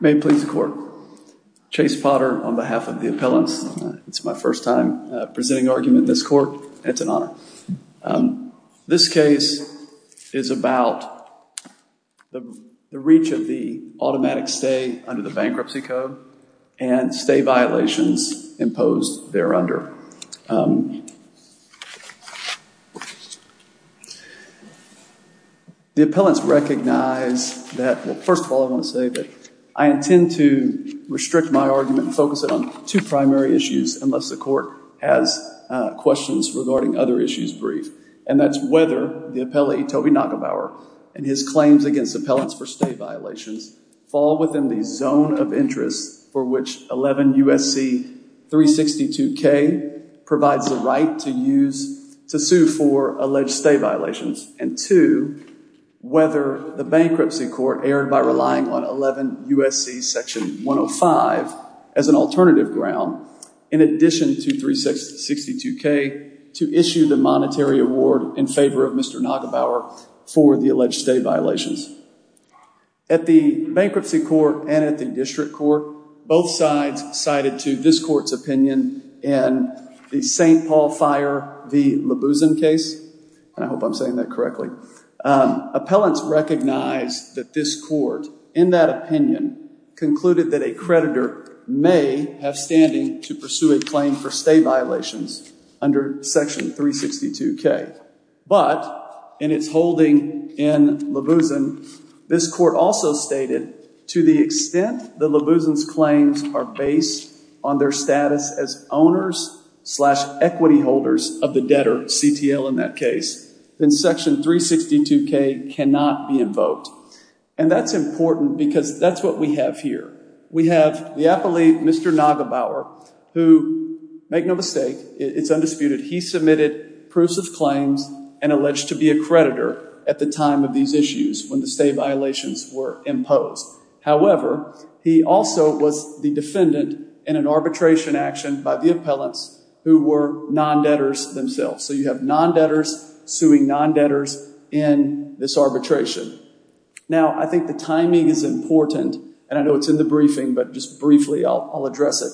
May it please the court, Chase Potter on behalf of the appellants. It's my first time presenting an argument in this court, and it's an honor. This case is about the reach of the automatic stay under the bankruptcy code and stay violations imposed there under. The appellants recognize that, well first of all I want to say that I intend to restrict my argument and focus it on two primary issues unless the court has questions regarding other issues briefed, and that's whether the appellate Toby Neugebauer and his claims against appellants for stay violations fall within the zone of interest for which 11 U.S.C. 362K provides the right to sue for alleged stay violations, and two, whether the bankruptcy court erred by relying on 11 U.S.C. section 105 as an alternative ground in addition to 362K to issue the monetary award in favor of Mr. Neugebauer for the alleged stay violations. At the bankruptcy court and at the district court, both sides cited to this court's opinion in the St. Paul Fire v. Labusan case, and I hope I'm saying that correctly. However, appellants recognize that this court, in that opinion, concluded that a creditor may have standing to pursue a claim for stay violations under section 362K, but in its holding in Labusan, this court also stated to the extent that Labusan's claims are based on their status as owners slash equity holders of the debtor, CTL in that case, then section 362K cannot be invoked. And that's important because that's what we have here. We have the appellee, Mr. Neugebauer, who, make no mistake, it's undisputed, he submitted proofs of claims and alleged to be a creditor at the time of these issues when the stay violations were imposed. However, he also was the defendant in an arbitration action by the appellants who were non-debtors themselves. So you have non-debtors suing non-debtors in this arbitration. Now I think the timing is important, and I know it's in the briefing, but just briefly I'll address it.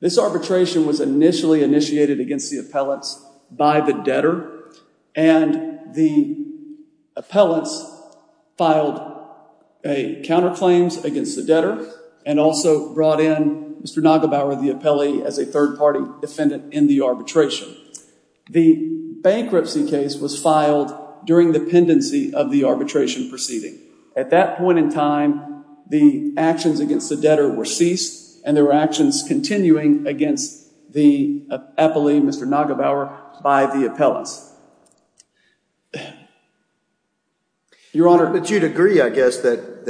This arbitration was initially initiated against the appellants by the debtor, and the appellants filed counterclaims against the debtor and also brought in Mr. Neugebauer, the appellee, as a third-party defendant in the arbitration. The bankruptcy case was filed during the pendency of the arbitration proceeding. At that point in time, the actions against the debtor were ceased, and there were actions continuing against the appellee, Mr. Neugebauer, by the appellants. Your Honor. But you'd agree, I guess, that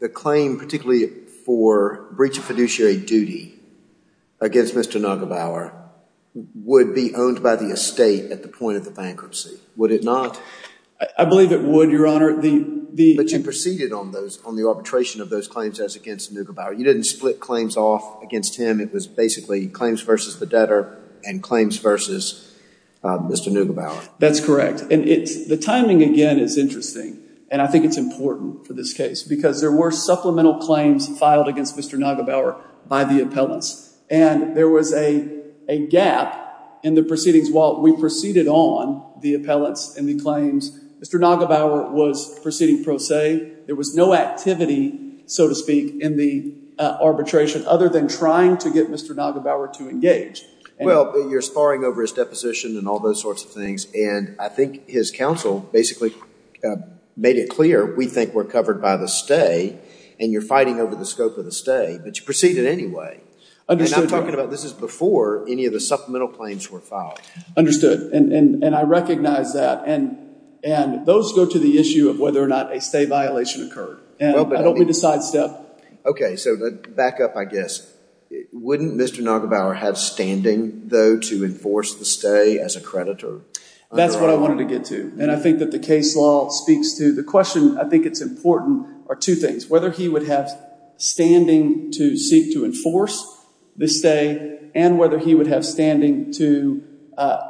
the claim, particularly for breach of fiduciary duty against Mr. Neugebauer, would be owned by the estate at the point of the bankruptcy. Would it not? I believe it would, Your Honor. But you proceeded on the arbitration of those claims as against Neugebauer. You didn't split claims off against him. It was basically claims versus the debtor and claims versus Mr. Neugebauer. That's correct. And the timing, again, is interesting, and I think it's important for this case because there were supplemental claims filed against Mr. Neugebauer by the appellants. And there was a gap in the proceedings while we proceeded on the appellants and the claims. Mr. Neugebauer was proceeding pro se. There was no activity, so to speak, in the arbitration other than trying to get Mr. Neugebauer to engage. Well, you're soaring over his deposition and all those sorts of things, and I think his counsel basically made it clear, we think we're covered by the stay, and you're fighting over the scope of the stay, but you proceeded anyway. Understood, Your Honor. And I'm talking about this is before any of the supplemental claims were filed. Understood. And I recognize that. And those go to the issue of whether or not a stay violation occurred. And I don't mean to sidestep. Okay, so back up, I guess. Wouldn't Mr. Neugebauer have standing, though, to enforce the stay as a creditor? That's what I wanted to get to, and I think that the case law speaks to the question. I think it's important are two things, whether he would have standing to seek to enforce the stay and whether he would have standing to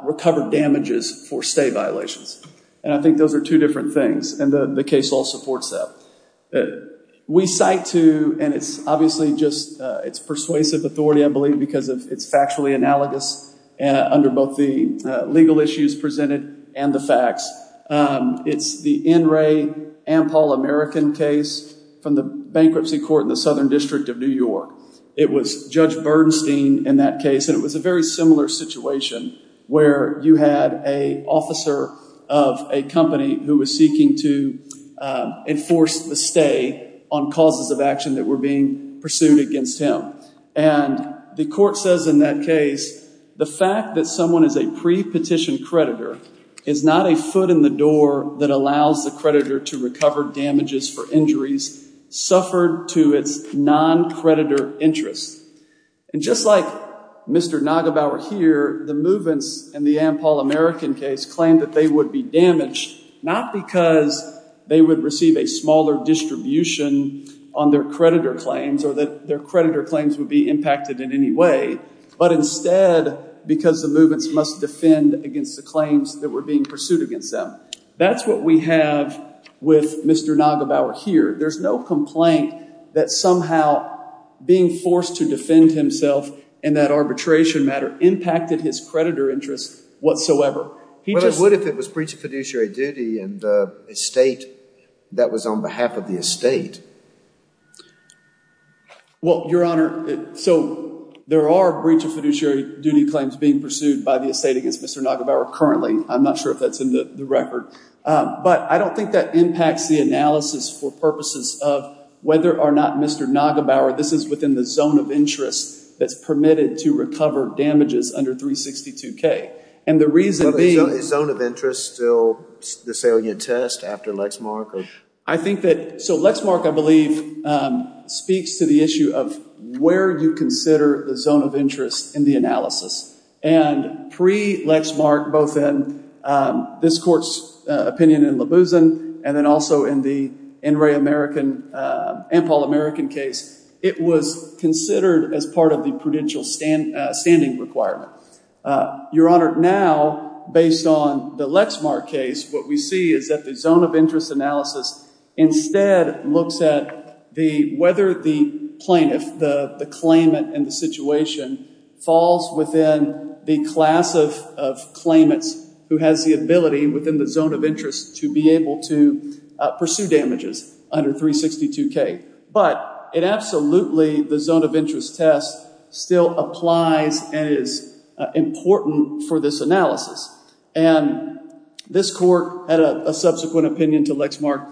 recover damages for stay violations. And I think those are two different things, and the case law supports that. We cite to, and it's obviously just, it's persuasive authority, I believe, because it's factually analogous under both the legal issues presented and the facts. It's the N. Ray Ampol-American case from the bankruptcy court in the Southern District of New York. It was Judge Bernstein in that case, and it was a very similar situation where you had an officer of a company who was seeking to enforce the stay on causes of action that were being pursued against him. And the court says in that case, the fact that someone is a pre-petition creditor is not a foot in the door that allows the creditor to recover damages for injuries suffered to its non-creditor interest. And just like Mr. Neugebauer here, the movements in the Ampol-American case claimed that they would be damaged not because they would receive a smaller distribution on their creditor claims or that their creditor claims would be impacted in any way, but instead because the movements must defend against the claims that were being pursued against them. That's what we have with Mr. Neugebauer here. There's no complaint that somehow being forced to defend himself in that arbitration matter impacted his creditor interest whatsoever. He just- Well, Your Honor, so there are breach of fiduciary duty claims being pursued by the estate against Mr. Neugebauer currently. I'm not sure if that's in the record. But I don't think that impacts the analysis for purposes of whether or not Mr. Neugebauer, this is within the zone of interest that's permitted to recover damages under 362K. And the reason being- Is zone of interest still the salient test after Lexmark? I think that- So Lexmark, I believe, speaks to the issue of where you consider the zone of interest in the analysis. And pre-Lexmark, both in this court's opinion in LaBusan and then also in the NRA-American, Ampol-American case, it was considered as part of the prudential standing requirement. Your Honor, now, based on the Lexmark case, what we see is that the zone of interest analysis instead looks at whether the plaintiff, the claimant in the situation, falls within the class of claimants who has the ability within the zone of interest to be able to pursue damages under 362K. But it absolutely, the zone of interest test, still applies and is important for this analysis. And this court had a subsequent opinion to Lexmark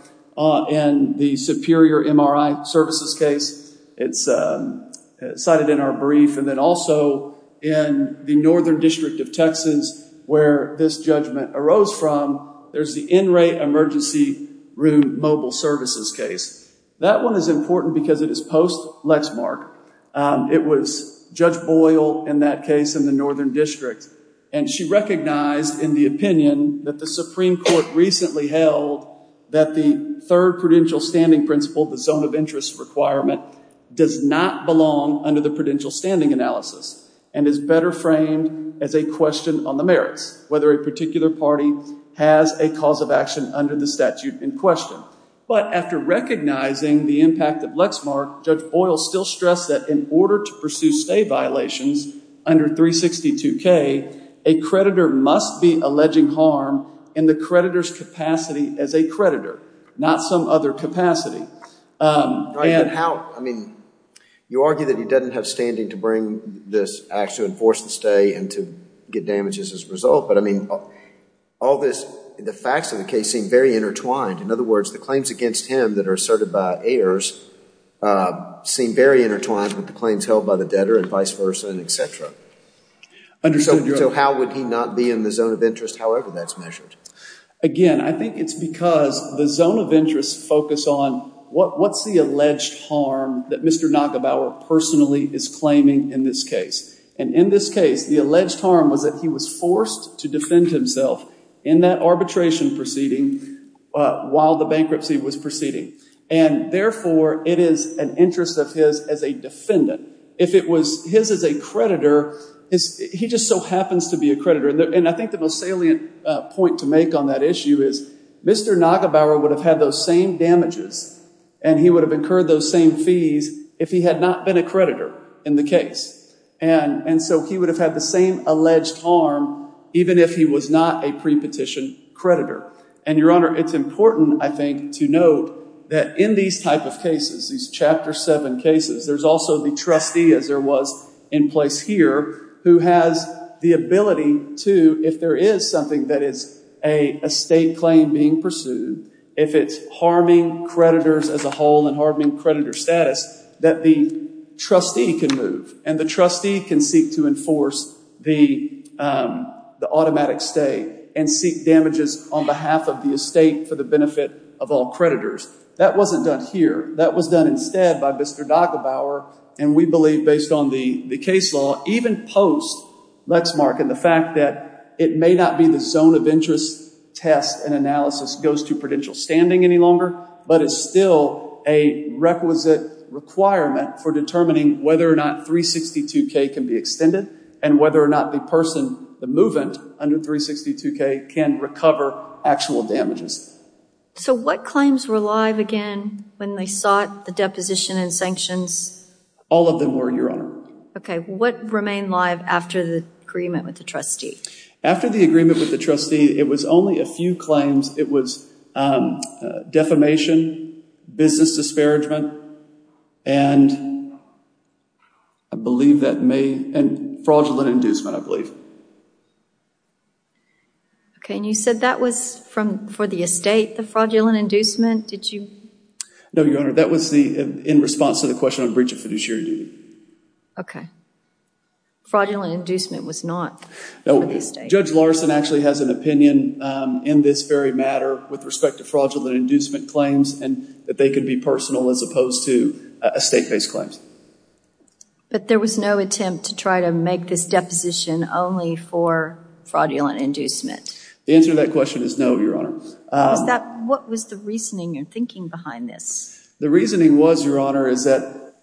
in the Superior MRI Services case. It's cited in our brief. And then also in the Northern District of Texas, where this judgment arose from, there's the NRA Emergency Room Mobile Services case. That one is important because it is post-Lexmark. It was Judge Boyle in that case in the Northern District. And she recognized in the opinion that the Supreme Court recently held that the third prudential standing principle, the zone of interest requirement, does not belong under the prudential standing analysis and is better framed as a question on the merits, whether a particular party has a cause of action under the statute in question. But after recognizing the impact of Lexmark, Judge Boyle still stressed that in order to pursue stay violations under 362K, a creditor must be alleging harm in the creditor's capacity as a creditor, not some other capacity. And how, I mean, you argue that he doesn't have standing to bring this act to enforce the stay and to get damages as a result. But I mean, all this, the facts of the case seem very intertwined. In other words, the claims against him that are asserted by heirs seem very intertwined with the claims held by the debtor and vice versa and et cetera. So how would he not be in the zone of interest, however that's measured? Again, I think it's because the zone of interest focus on what's the alleged harm that Mr. Nagabower personally is claiming in this case. And in this case, the alleged harm was that he was forced to defend himself in that arbitration proceeding while the bankruptcy was proceeding. And therefore, it is an interest of his as a defendant. If it was his as a creditor, he just so happens to be a creditor. And I think the most salient point to make on that issue is Mr. Nagabower would have had those same damages and he would have incurred those same fees if he had not been a creditor in the case. And so he would have had the same alleged harm even if he was not a pre-petition creditor. And Your Honor, it's important, I think, to note that in these type of cases, these chapter seven cases, there's also the trustee as there was in place here who has the ability to, if there is something that is a state claim being pursued, if it's harming creditors as a whole and harming creditor status, that the trustee can move and the trustee can seek to enforce the automatic stay and seek damages on behalf of the estate for the benefit of all creditors. That wasn't done here. That was done instead by Mr. Nagabower. And we believe based on the case law, even post Lexmark and the fact that it may not be the zone of interest test and analysis goes to prudential standing any longer, but it's still a requisite requirement for determining whether or not 362K can be extended and whether or not the person, the move-in under 362K can recover actual damages. So what claims were live again when they sought the deposition and sanctions? All of them were, Your Honor. Okay. What remained live after the agreement with the trustee? After the agreement with the trustee, it was only a few claims. It was defamation, business disparagement, and I believe that may, and fraudulent inducement, I believe. Okay. And you said that was from, for the estate, the fraudulent inducement? Did you? No, Your Honor. That was the, in response to the question on breach of fiduciary duty. Okay. Fraudulent inducement was not for the estate. Judge Larson actually has an opinion in this very matter with respect to fraudulent inducement claims and that they could be personal as opposed to estate-based claims. But there was no attempt to try to make this deposition only for fraudulent inducement? The answer to that question is no, Your Honor. What was the reasoning or thinking behind this? The reasoning was, Your Honor, is that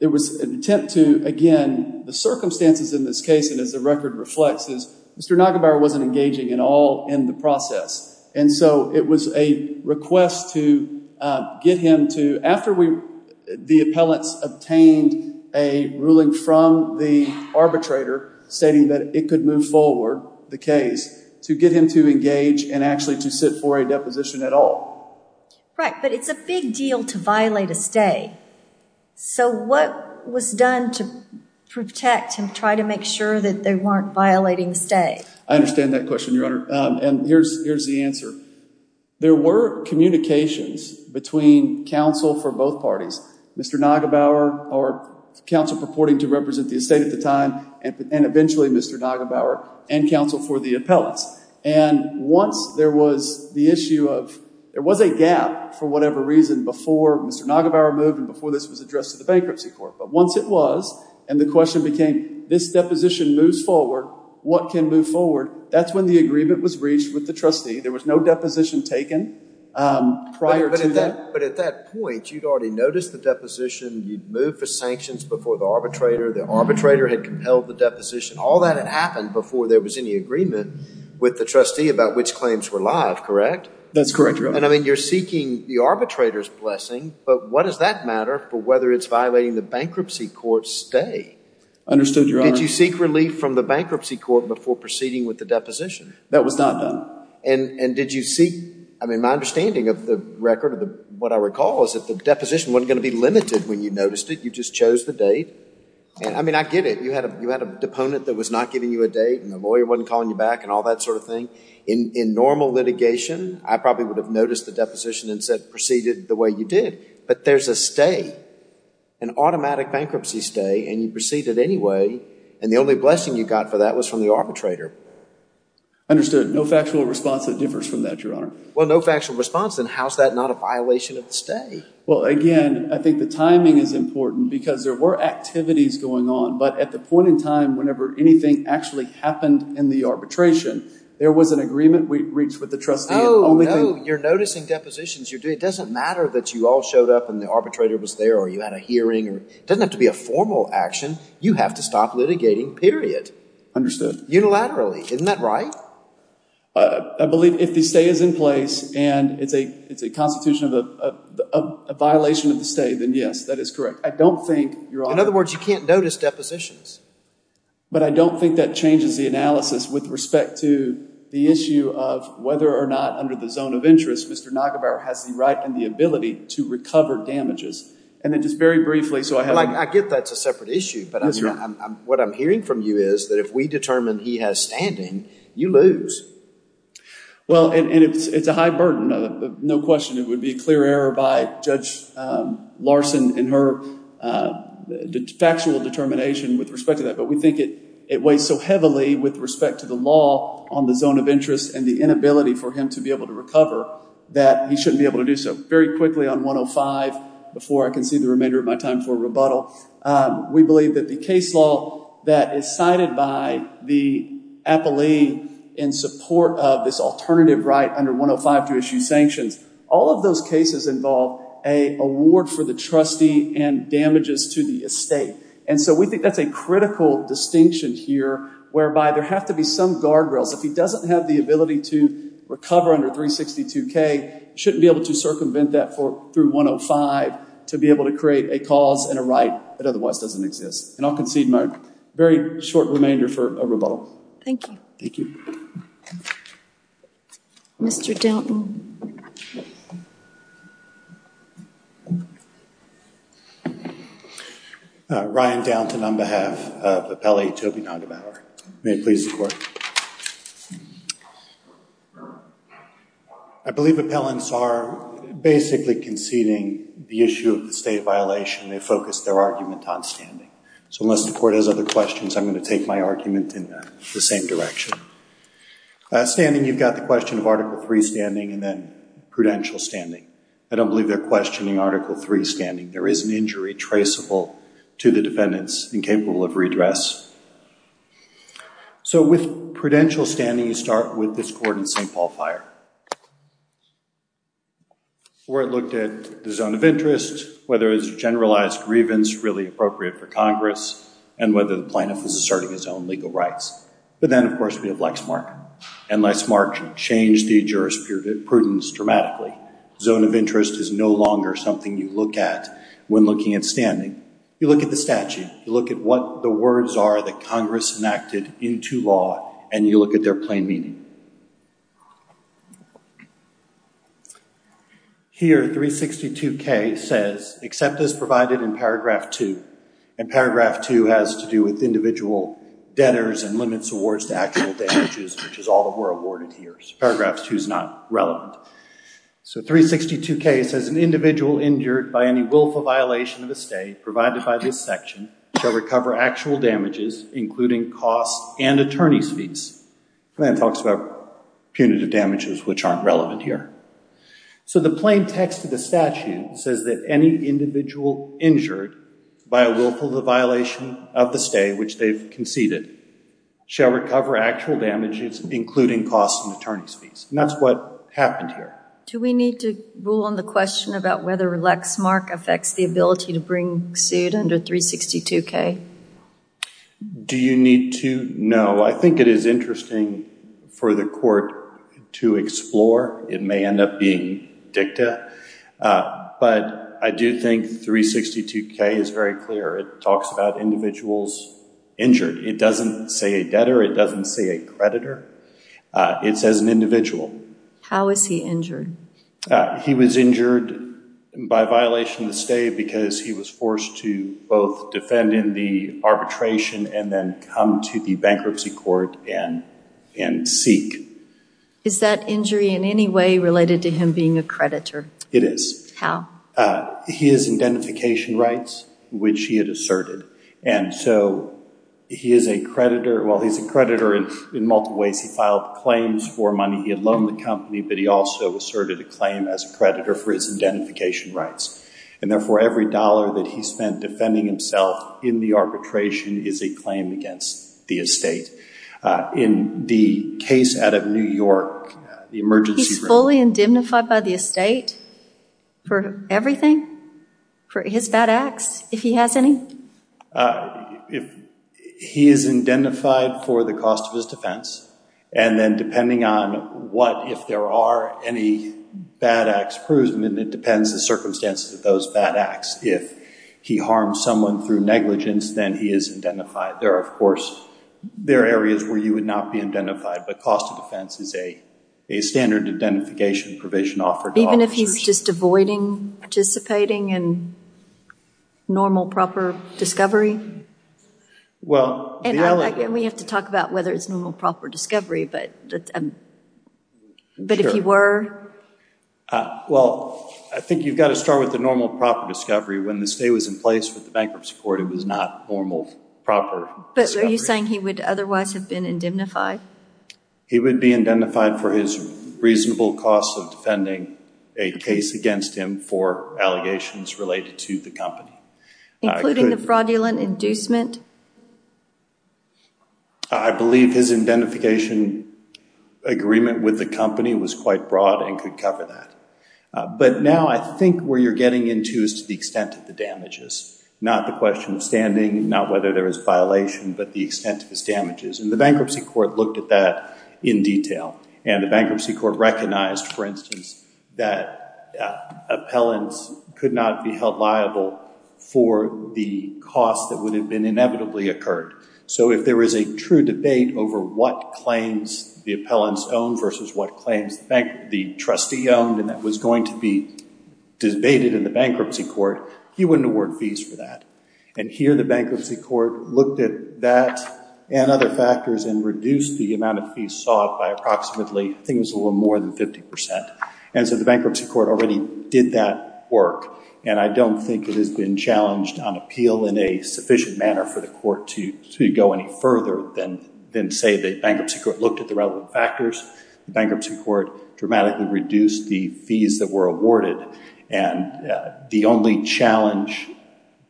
there was an attempt to, again, the circumstances in this case, and as the record reflects, is Mr. Nagenbauer wasn't engaging at all in the process. And so it was a request to get him to, after the appellants obtained a ruling from the arbitrator, stating that it could move forward, the case, to get him to engage and actually to sit for a deposition at all. Right. But it's a big deal to violate a stay. So what was done to protect and try to make sure that they weren't violating the stay? I understand that question, Your Honor, and here's the answer. There were communications between counsel for both parties, Mr. Nagenbauer, or counsel purporting to represent the estate at the time, and eventually Mr. Nagenbauer, and counsel for the appellants. And once there was the issue of, there was a gap, for whatever reason, before Mr. Nagenbauer moved and before this was addressed to the bankruptcy court. But once it was, and the question became, this deposition moves forward. What can move forward? That's when the agreement was reached with the trustee. There was no deposition taken prior to that. But at that point, you'd already noticed the deposition, you'd moved for sanctions before the arbitrator, the arbitrator had compelled the deposition. All that had happened before there was any agreement with the trustee about which claims were live, correct? That's correct, Your Honor. And I mean, you're seeking the arbitrator's blessing, but what does that matter for whether it's violating the bankruptcy court's stay? Understood, Your Honor. Did you seek relief from the bankruptcy court before proceeding with the deposition? That was not done. And did you seek, I mean, my understanding of the record, what I recall, is that the deposition wasn't going to be limited when you noticed it. You just chose the date. I mean, I get it, you had a deponent that was not giving you a date, and the lawyer wasn't calling you back, and all that sort of thing. In normal litigation, I probably would have noticed the deposition and said, proceeded the way you did. But there's a stay, an automatic bankruptcy stay, and you proceeded anyway, and the only blessing you got for that was from the arbitrator. Understood. No factual response that differs from that, Your Honor. Well, no factual response, then how's that not a violation of the stay? Well, again, I think the timing is important because there were activities going on, but at the point in time whenever anything actually happened in the arbitration, there was an agreement we reached with the trustee and the only thing... No, no. You're noticing depositions, you're doing... it doesn't matter that you all showed up and the arbitrator was there, or you had a hearing, or... it doesn't have to be a formal action. You have to stop litigating, period. Understood. Unilaterally. Isn't that right? I believe if the stay is in place, and it's a constitution of a violation of the stay, then yes, that is correct. I don't think, Your Honor... But I don't think that changes the analysis with respect to the issue of whether or not under the zone of interest, Mr. Nagevar has the right and the ability to recover damages. And then just very briefly, so I have... I get that's a separate issue, but what I'm hearing from you is that if we determine he has standing, you lose. Well, and it's a high burden, no question, it would be a clear error by Judge Larson in her factual determination with respect to that. But we think it weighs so heavily with respect to the law on the zone of interest and the inability for him to be able to recover that he shouldn't be able to do so. Very quickly on 105, before I can see the remainder of my time for rebuttal, we believe that the case law that is cited by the appellee in support of this alternative right under 105 to issue sanctions, all of those cases involve an award for the trustee and damages to the estate. And so we think that's a critical distinction here whereby there have to be some guardrails. If he doesn't have the ability to recover under 362K, shouldn't be able to circumvent that through 105 to be able to create a cause and a right that otherwise doesn't exist. And I'll concede my very short remainder for a rebuttal. Thank you. Thank you. Mr. Downton. Ryan Downton on behalf of Appellee Toby Noggenbauer. May it please the Court. I believe appellants are basically conceding the issue of the state violation. They focused their argument on standing. So unless the Court has other questions, I'm going to take my argument in the same direction. Standing, you've got the question of Article III standing and then prudential standing. I don't believe they're questioning Article III standing. There is an injury traceable to the defendants incapable of redress. So with prudential standing, you start with this court in St. Paul Fire where it looked at the zone of interest, whether it's a generalized grievance really appropriate for Congress and whether the plaintiff is asserting his own legal rights. But then, of course, we have Lexmark. And Lexmark changed the jurisprudence dramatically. Zone of interest is no longer something you look at when looking at standing. You look at the statute. You look at what the words are that Congress enacted into law and you look at their plain meaning. Here 362K says, except as provided in paragraph two. And paragraph two has to do with individual debtors and limits awards to actual damages, which is all that we're awarded here. Paragraph two is not relevant. So 362K says an individual injured by any willful violation of a stay provided by this section shall recover actual damages, including costs and attorney's fees. And then it talks about punitive damages, which aren't relevant here. So the plain text of the statute says that any individual injured by a willful violation of the stay, which they've conceded, shall recover actual damages, including costs and attorney's fees. And that's what happened here. Do we need to rule on the question about whether Lexmark affects the ability to bring suit under 362K? Do you need to? No. I think it is interesting for the court to explore. It may end up being dicta. But I do think 362K is very clear. It talks about individuals injured. It doesn't say a debtor. It doesn't say a creditor. It says an individual. How is he injured? He was injured by violation of the stay because he was forced to both defend in the arbitration and then come to the bankruptcy court and seek. Is that injury in any way related to him being a creditor? It is. He has identification rights, which he had asserted. And so he is a creditor, well, he's a creditor in multiple ways. He filed claims for money he had loaned the company, but he also asserted a claim as a creditor for his identification rights. And therefore every dollar that he spent defending himself in the arbitration is a claim against the estate. In the case out of New York, the emergency room. He's fully indemnified by the estate for everything? For his bad acts, if he has any? He is indemnified for the cost of his defense. And then depending on what, if there are any bad acts, it depends on the circumstances of those bad acts. If he harmed someone through negligence, then he is indemnified. There are, of course, there are areas where you would not be indemnified, but cost of defense is a standard identification provision offered to officers. Even if he's just avoiding participating in normal, proper discovery? Well, the element- We have to talk about whether it's normal, proper discovery, but if he were? Well, I think you've got to start with the normal, proper discovery. When the estate was in place with the bankruptcy court, it was not normal, proper discovery. But are you saying he would otherwise have been indemnified? He would be indemnified for his reasonable cost of defending a case against him for allegations related to the company. Including the fraudulent inducement? I believe his indemnification agreement with the company was quite broad and could cover that. But now, I think where you're getting into is to the extent of the damages. Not the question of standing, not whether there is violation, but the extent of his damages. The bankruptcy court looked at that in detail, and the bankruptcy court recognized, for instance, that appellants could not be held liable for the cost that would have been inevitably occurred. So if there is a true debate over what claims the appellants own versus what claims the trustee owned, and that was going to be debated in the bankruptcy court, he wouldn't award fees for that. And here, the bankruptcy court looked at that and other factors and reduced the amount of fees sought by approximately, I think it was a little more than 50%. And so the bankruptcy court already did that work. And I don't think it has been challenged on appeal in a sufficient manner for the court to go any further than say the bankruptcy court looked at the relevant factors. The bankruptcy court dramatically reduced the fees that were awarded. And the only challenge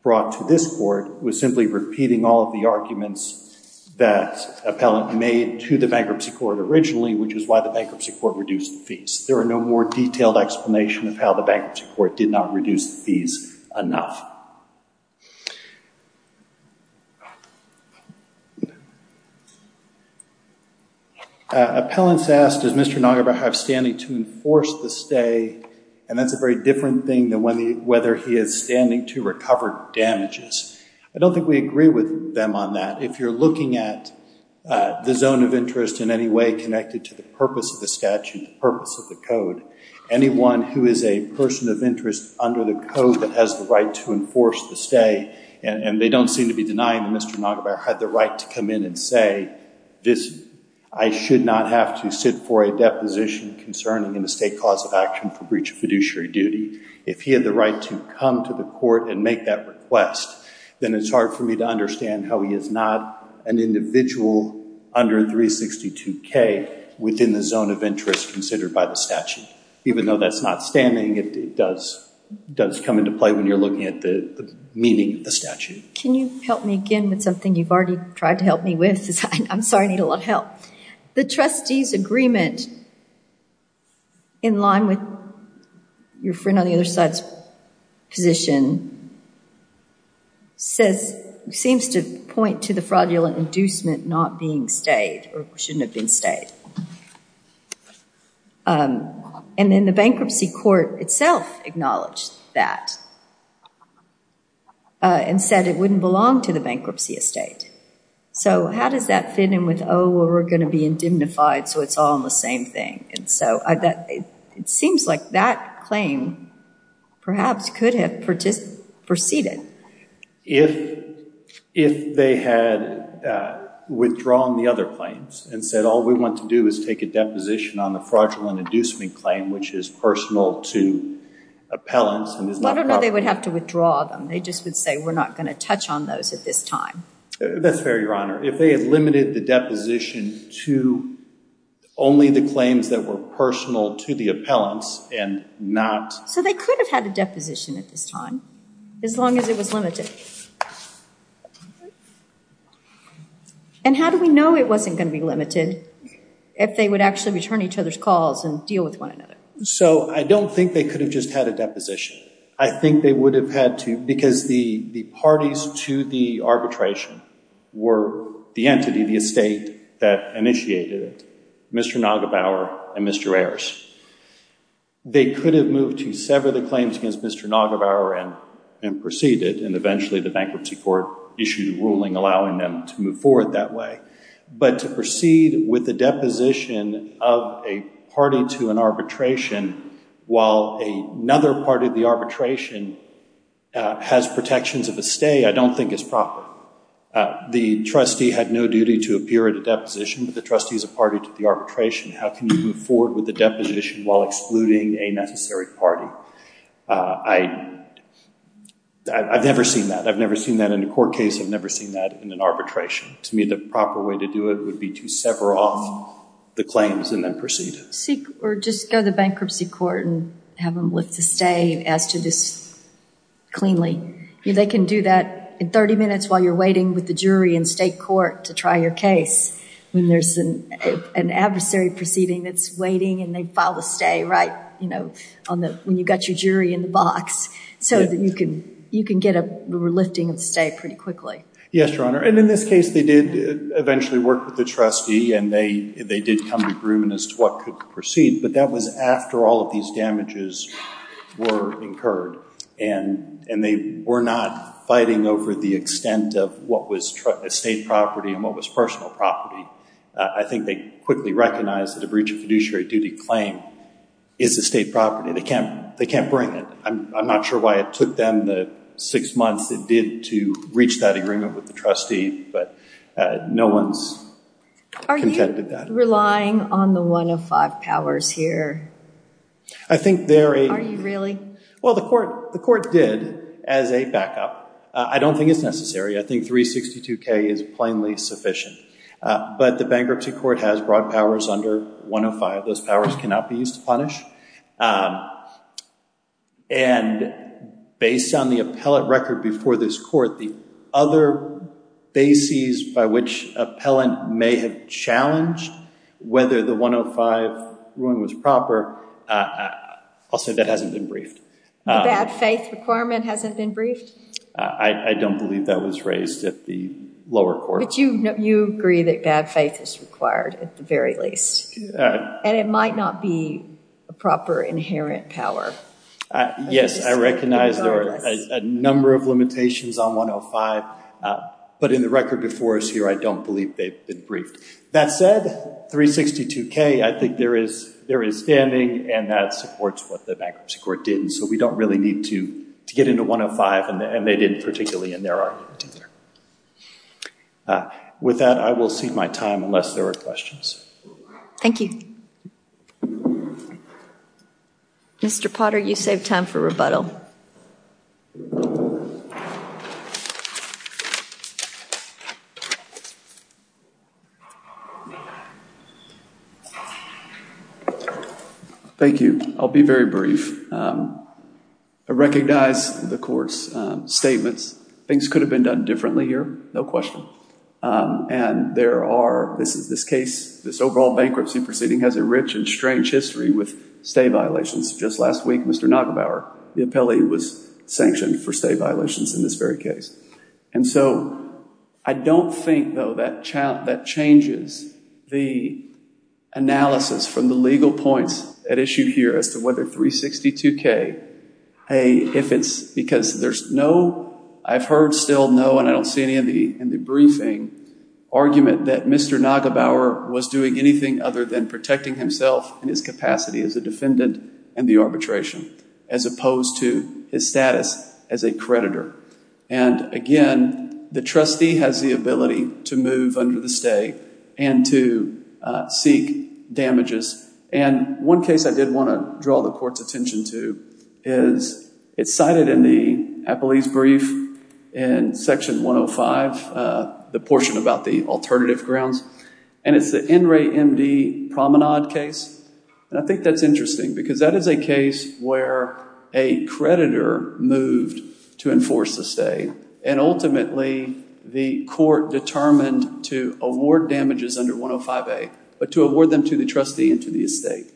brought to this court was simply repeating all of the arguments that appellant made to the bankruptcy court originally, which is why the bankruptcy court reduced the fees. There are no more detailed explanation of how the bankruptcy court did not reduce the fees enough. Appellants asked, does Mr. Nageva have standing to enforce the stay? And that's a very different thing than whether he is standing to recover damages. I don't think we agree with them on that. If you're looking at the zone of interest in any way connected to the purpose of the statute, the purpose of the code, anyone who is a person of interest under the code that has the right to enforce the stay, that's a very different thing. And they don't seem to be denying that Mr. Nageva had the right to come in and say, I should not have to sit for a deposition concerning an estate cause of action for breach of fiduciary duty. If he had the right to come to the court and make that request, then it's hard for me to understand how he is not an individual under 362K within the zone of interest considered by the statute. Even though that's not standing, it does come into play when you're looking at the meaning of the statute. Can you help me again with something you've already tried to help me with? I'm sorry, I need a lot of help. The trustee's agreement in line with your friend on the other side's position seems to point to the fraudulent inducement not being stayed or shouldn't have been stayed. And then the bankruptcy court itself acknowledged that and said it wouldn't belong to the bankruptcy estate. So how does that fit in with, oh, well, we're going to be indemnified so it's all on the same thing? And so it seems like that claim perhaps could have proceeded. If they had withdrawn the other claims and said all we want to do is take a deposition on the fraudulent inducement claim, which is personal to appellants. I don't know they would have to withdraw them. They just would say we're not going to touch on those at this time. That's fair, Your Honor. If they had limited the deposition to only the claims that were personal to the appellants and not... So they could have had a deposition at this time, as long as it was limited. And how do we know it wasn't going to be limited if they would actually return each other's calls and deal with one another? So I don't think they could have just had a deposition. I think they would have had to, because the parties to the arbitration were the entity, the estate that initiated it, Mr. Nagebauer and Mr. Ayers. They could have moved to sever the claims against Mr. Nagebauer and proceeded and eventually the bankruptcy court issued a ruling allowing them to move forward that way. But to proceed with a deposition of a party to an arbitration while another party to the arbitration has protections of a stay, I don't think is proper. The trustee had no duty to appear at a deposition, but the trustee is a party to the arbitration. How can you move forward with a deposition while excluding a necessary party? I've never seen that. I've never seen that in a court case. I've never seen that in an arbitration. To me, the proper way to do it would be to sever off the claims and then proceed. Or just go to the bankruptcy court and have them lift a stay and ask to just cleanly. They can do that in 30 minutes while you're waiting with the jury in state court to try your case. When there's an adversary proceeding that's waiting and they file a stay, right? When you've got your jury in the box. So that you can get a lifting of the stay pretty quickly. Yes, Your Honor. And in this case, they did eventually work with the trustee and they did come to a agreement as to what could proceed. But that was after all of these damages were incurred. And they were not fighting over the extent of what was estate property and what was personal property. I think they quickly recognized that a breach of fiduciary duty claim is estate property. They can't bring it. I'm not sure why it took them the six months it did to reach that agreement with the trustee. But no one's contended that. Are you relying on the 105 powers here? I think they're a... Are you really? Well, the court did as a backup. I don't think it's necessary. I think 362K is plainly sufficient. But the bankruptcy court has broad powers under 105. Those powers cannot be used to punish. And based on the appellate record before this court, the other bases by which appellant may have challenged whether the 105 ruling was proper, I'll say that hasn't been briefed. The bad faith requirement hasn't been briefed? I don't believe that was raised at the lower court. But you agree that bad faith is required at the very least. And it might not be a proper inherent power. Yes, I recognize there are a number of limitations on 105. But in the record before us here, I don't believe they've been briefed. That said, 362K, I think there is standing, and that supports what the bankruptcy court did. And so we don't really need to get into 105, and they didn't particularly in their argument. With that, I will cede my time unless there are questions. Thank you. Mr. Potter, you save time for rebuttal. Thank you. I'll be very brief. I recognize the court's statements. Things could have been done differently here. No question. And there are, this case, this overall bankruptcy proceeding, has a rich and strange history with stay violations. Just last week, Mr. Nagelbauer, the appellee, was sanctioned for stay violations in this very case. And so I don't think, though, that changes the analysis from the legal points at issue here as to whether 362K, hey, if it's because there's no, I've heard still no, and I don't see any in the briefing, argument that Mr. Nagelbauer was doing anything other than protecting himself and his capacity as a defendant and the arbitration, as opposed to his status as a creditor. And again, the trustee has the ability to move under the stay and to seek damages. And one case I did want to draw the court's attention to is, it's cited in the appellee's brief in Section 105, the portion about the alternative grounds, and it's the NRAE-MD Promenade case. And I think that's interesting because that is a case where a creditor moved to enforce the stay, and ultimately the court determined to award damages under 105A, but to award them to the trustee and to the estate.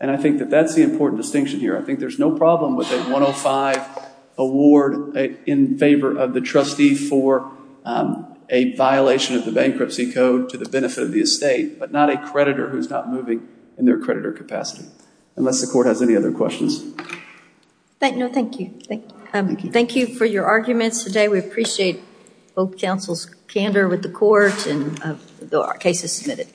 And I think that that's the important distinction here. I think there's no problem with a 105 award in favor of the trustee for a violation of the bankruptcy code to the benefit of the estate, but not a creditor who's not moving in their creditor capacity, unless the court has any other questions. No, thank you. Thank you for your arguments today. We appreciate both counsel's candor with the court and the cases submitted.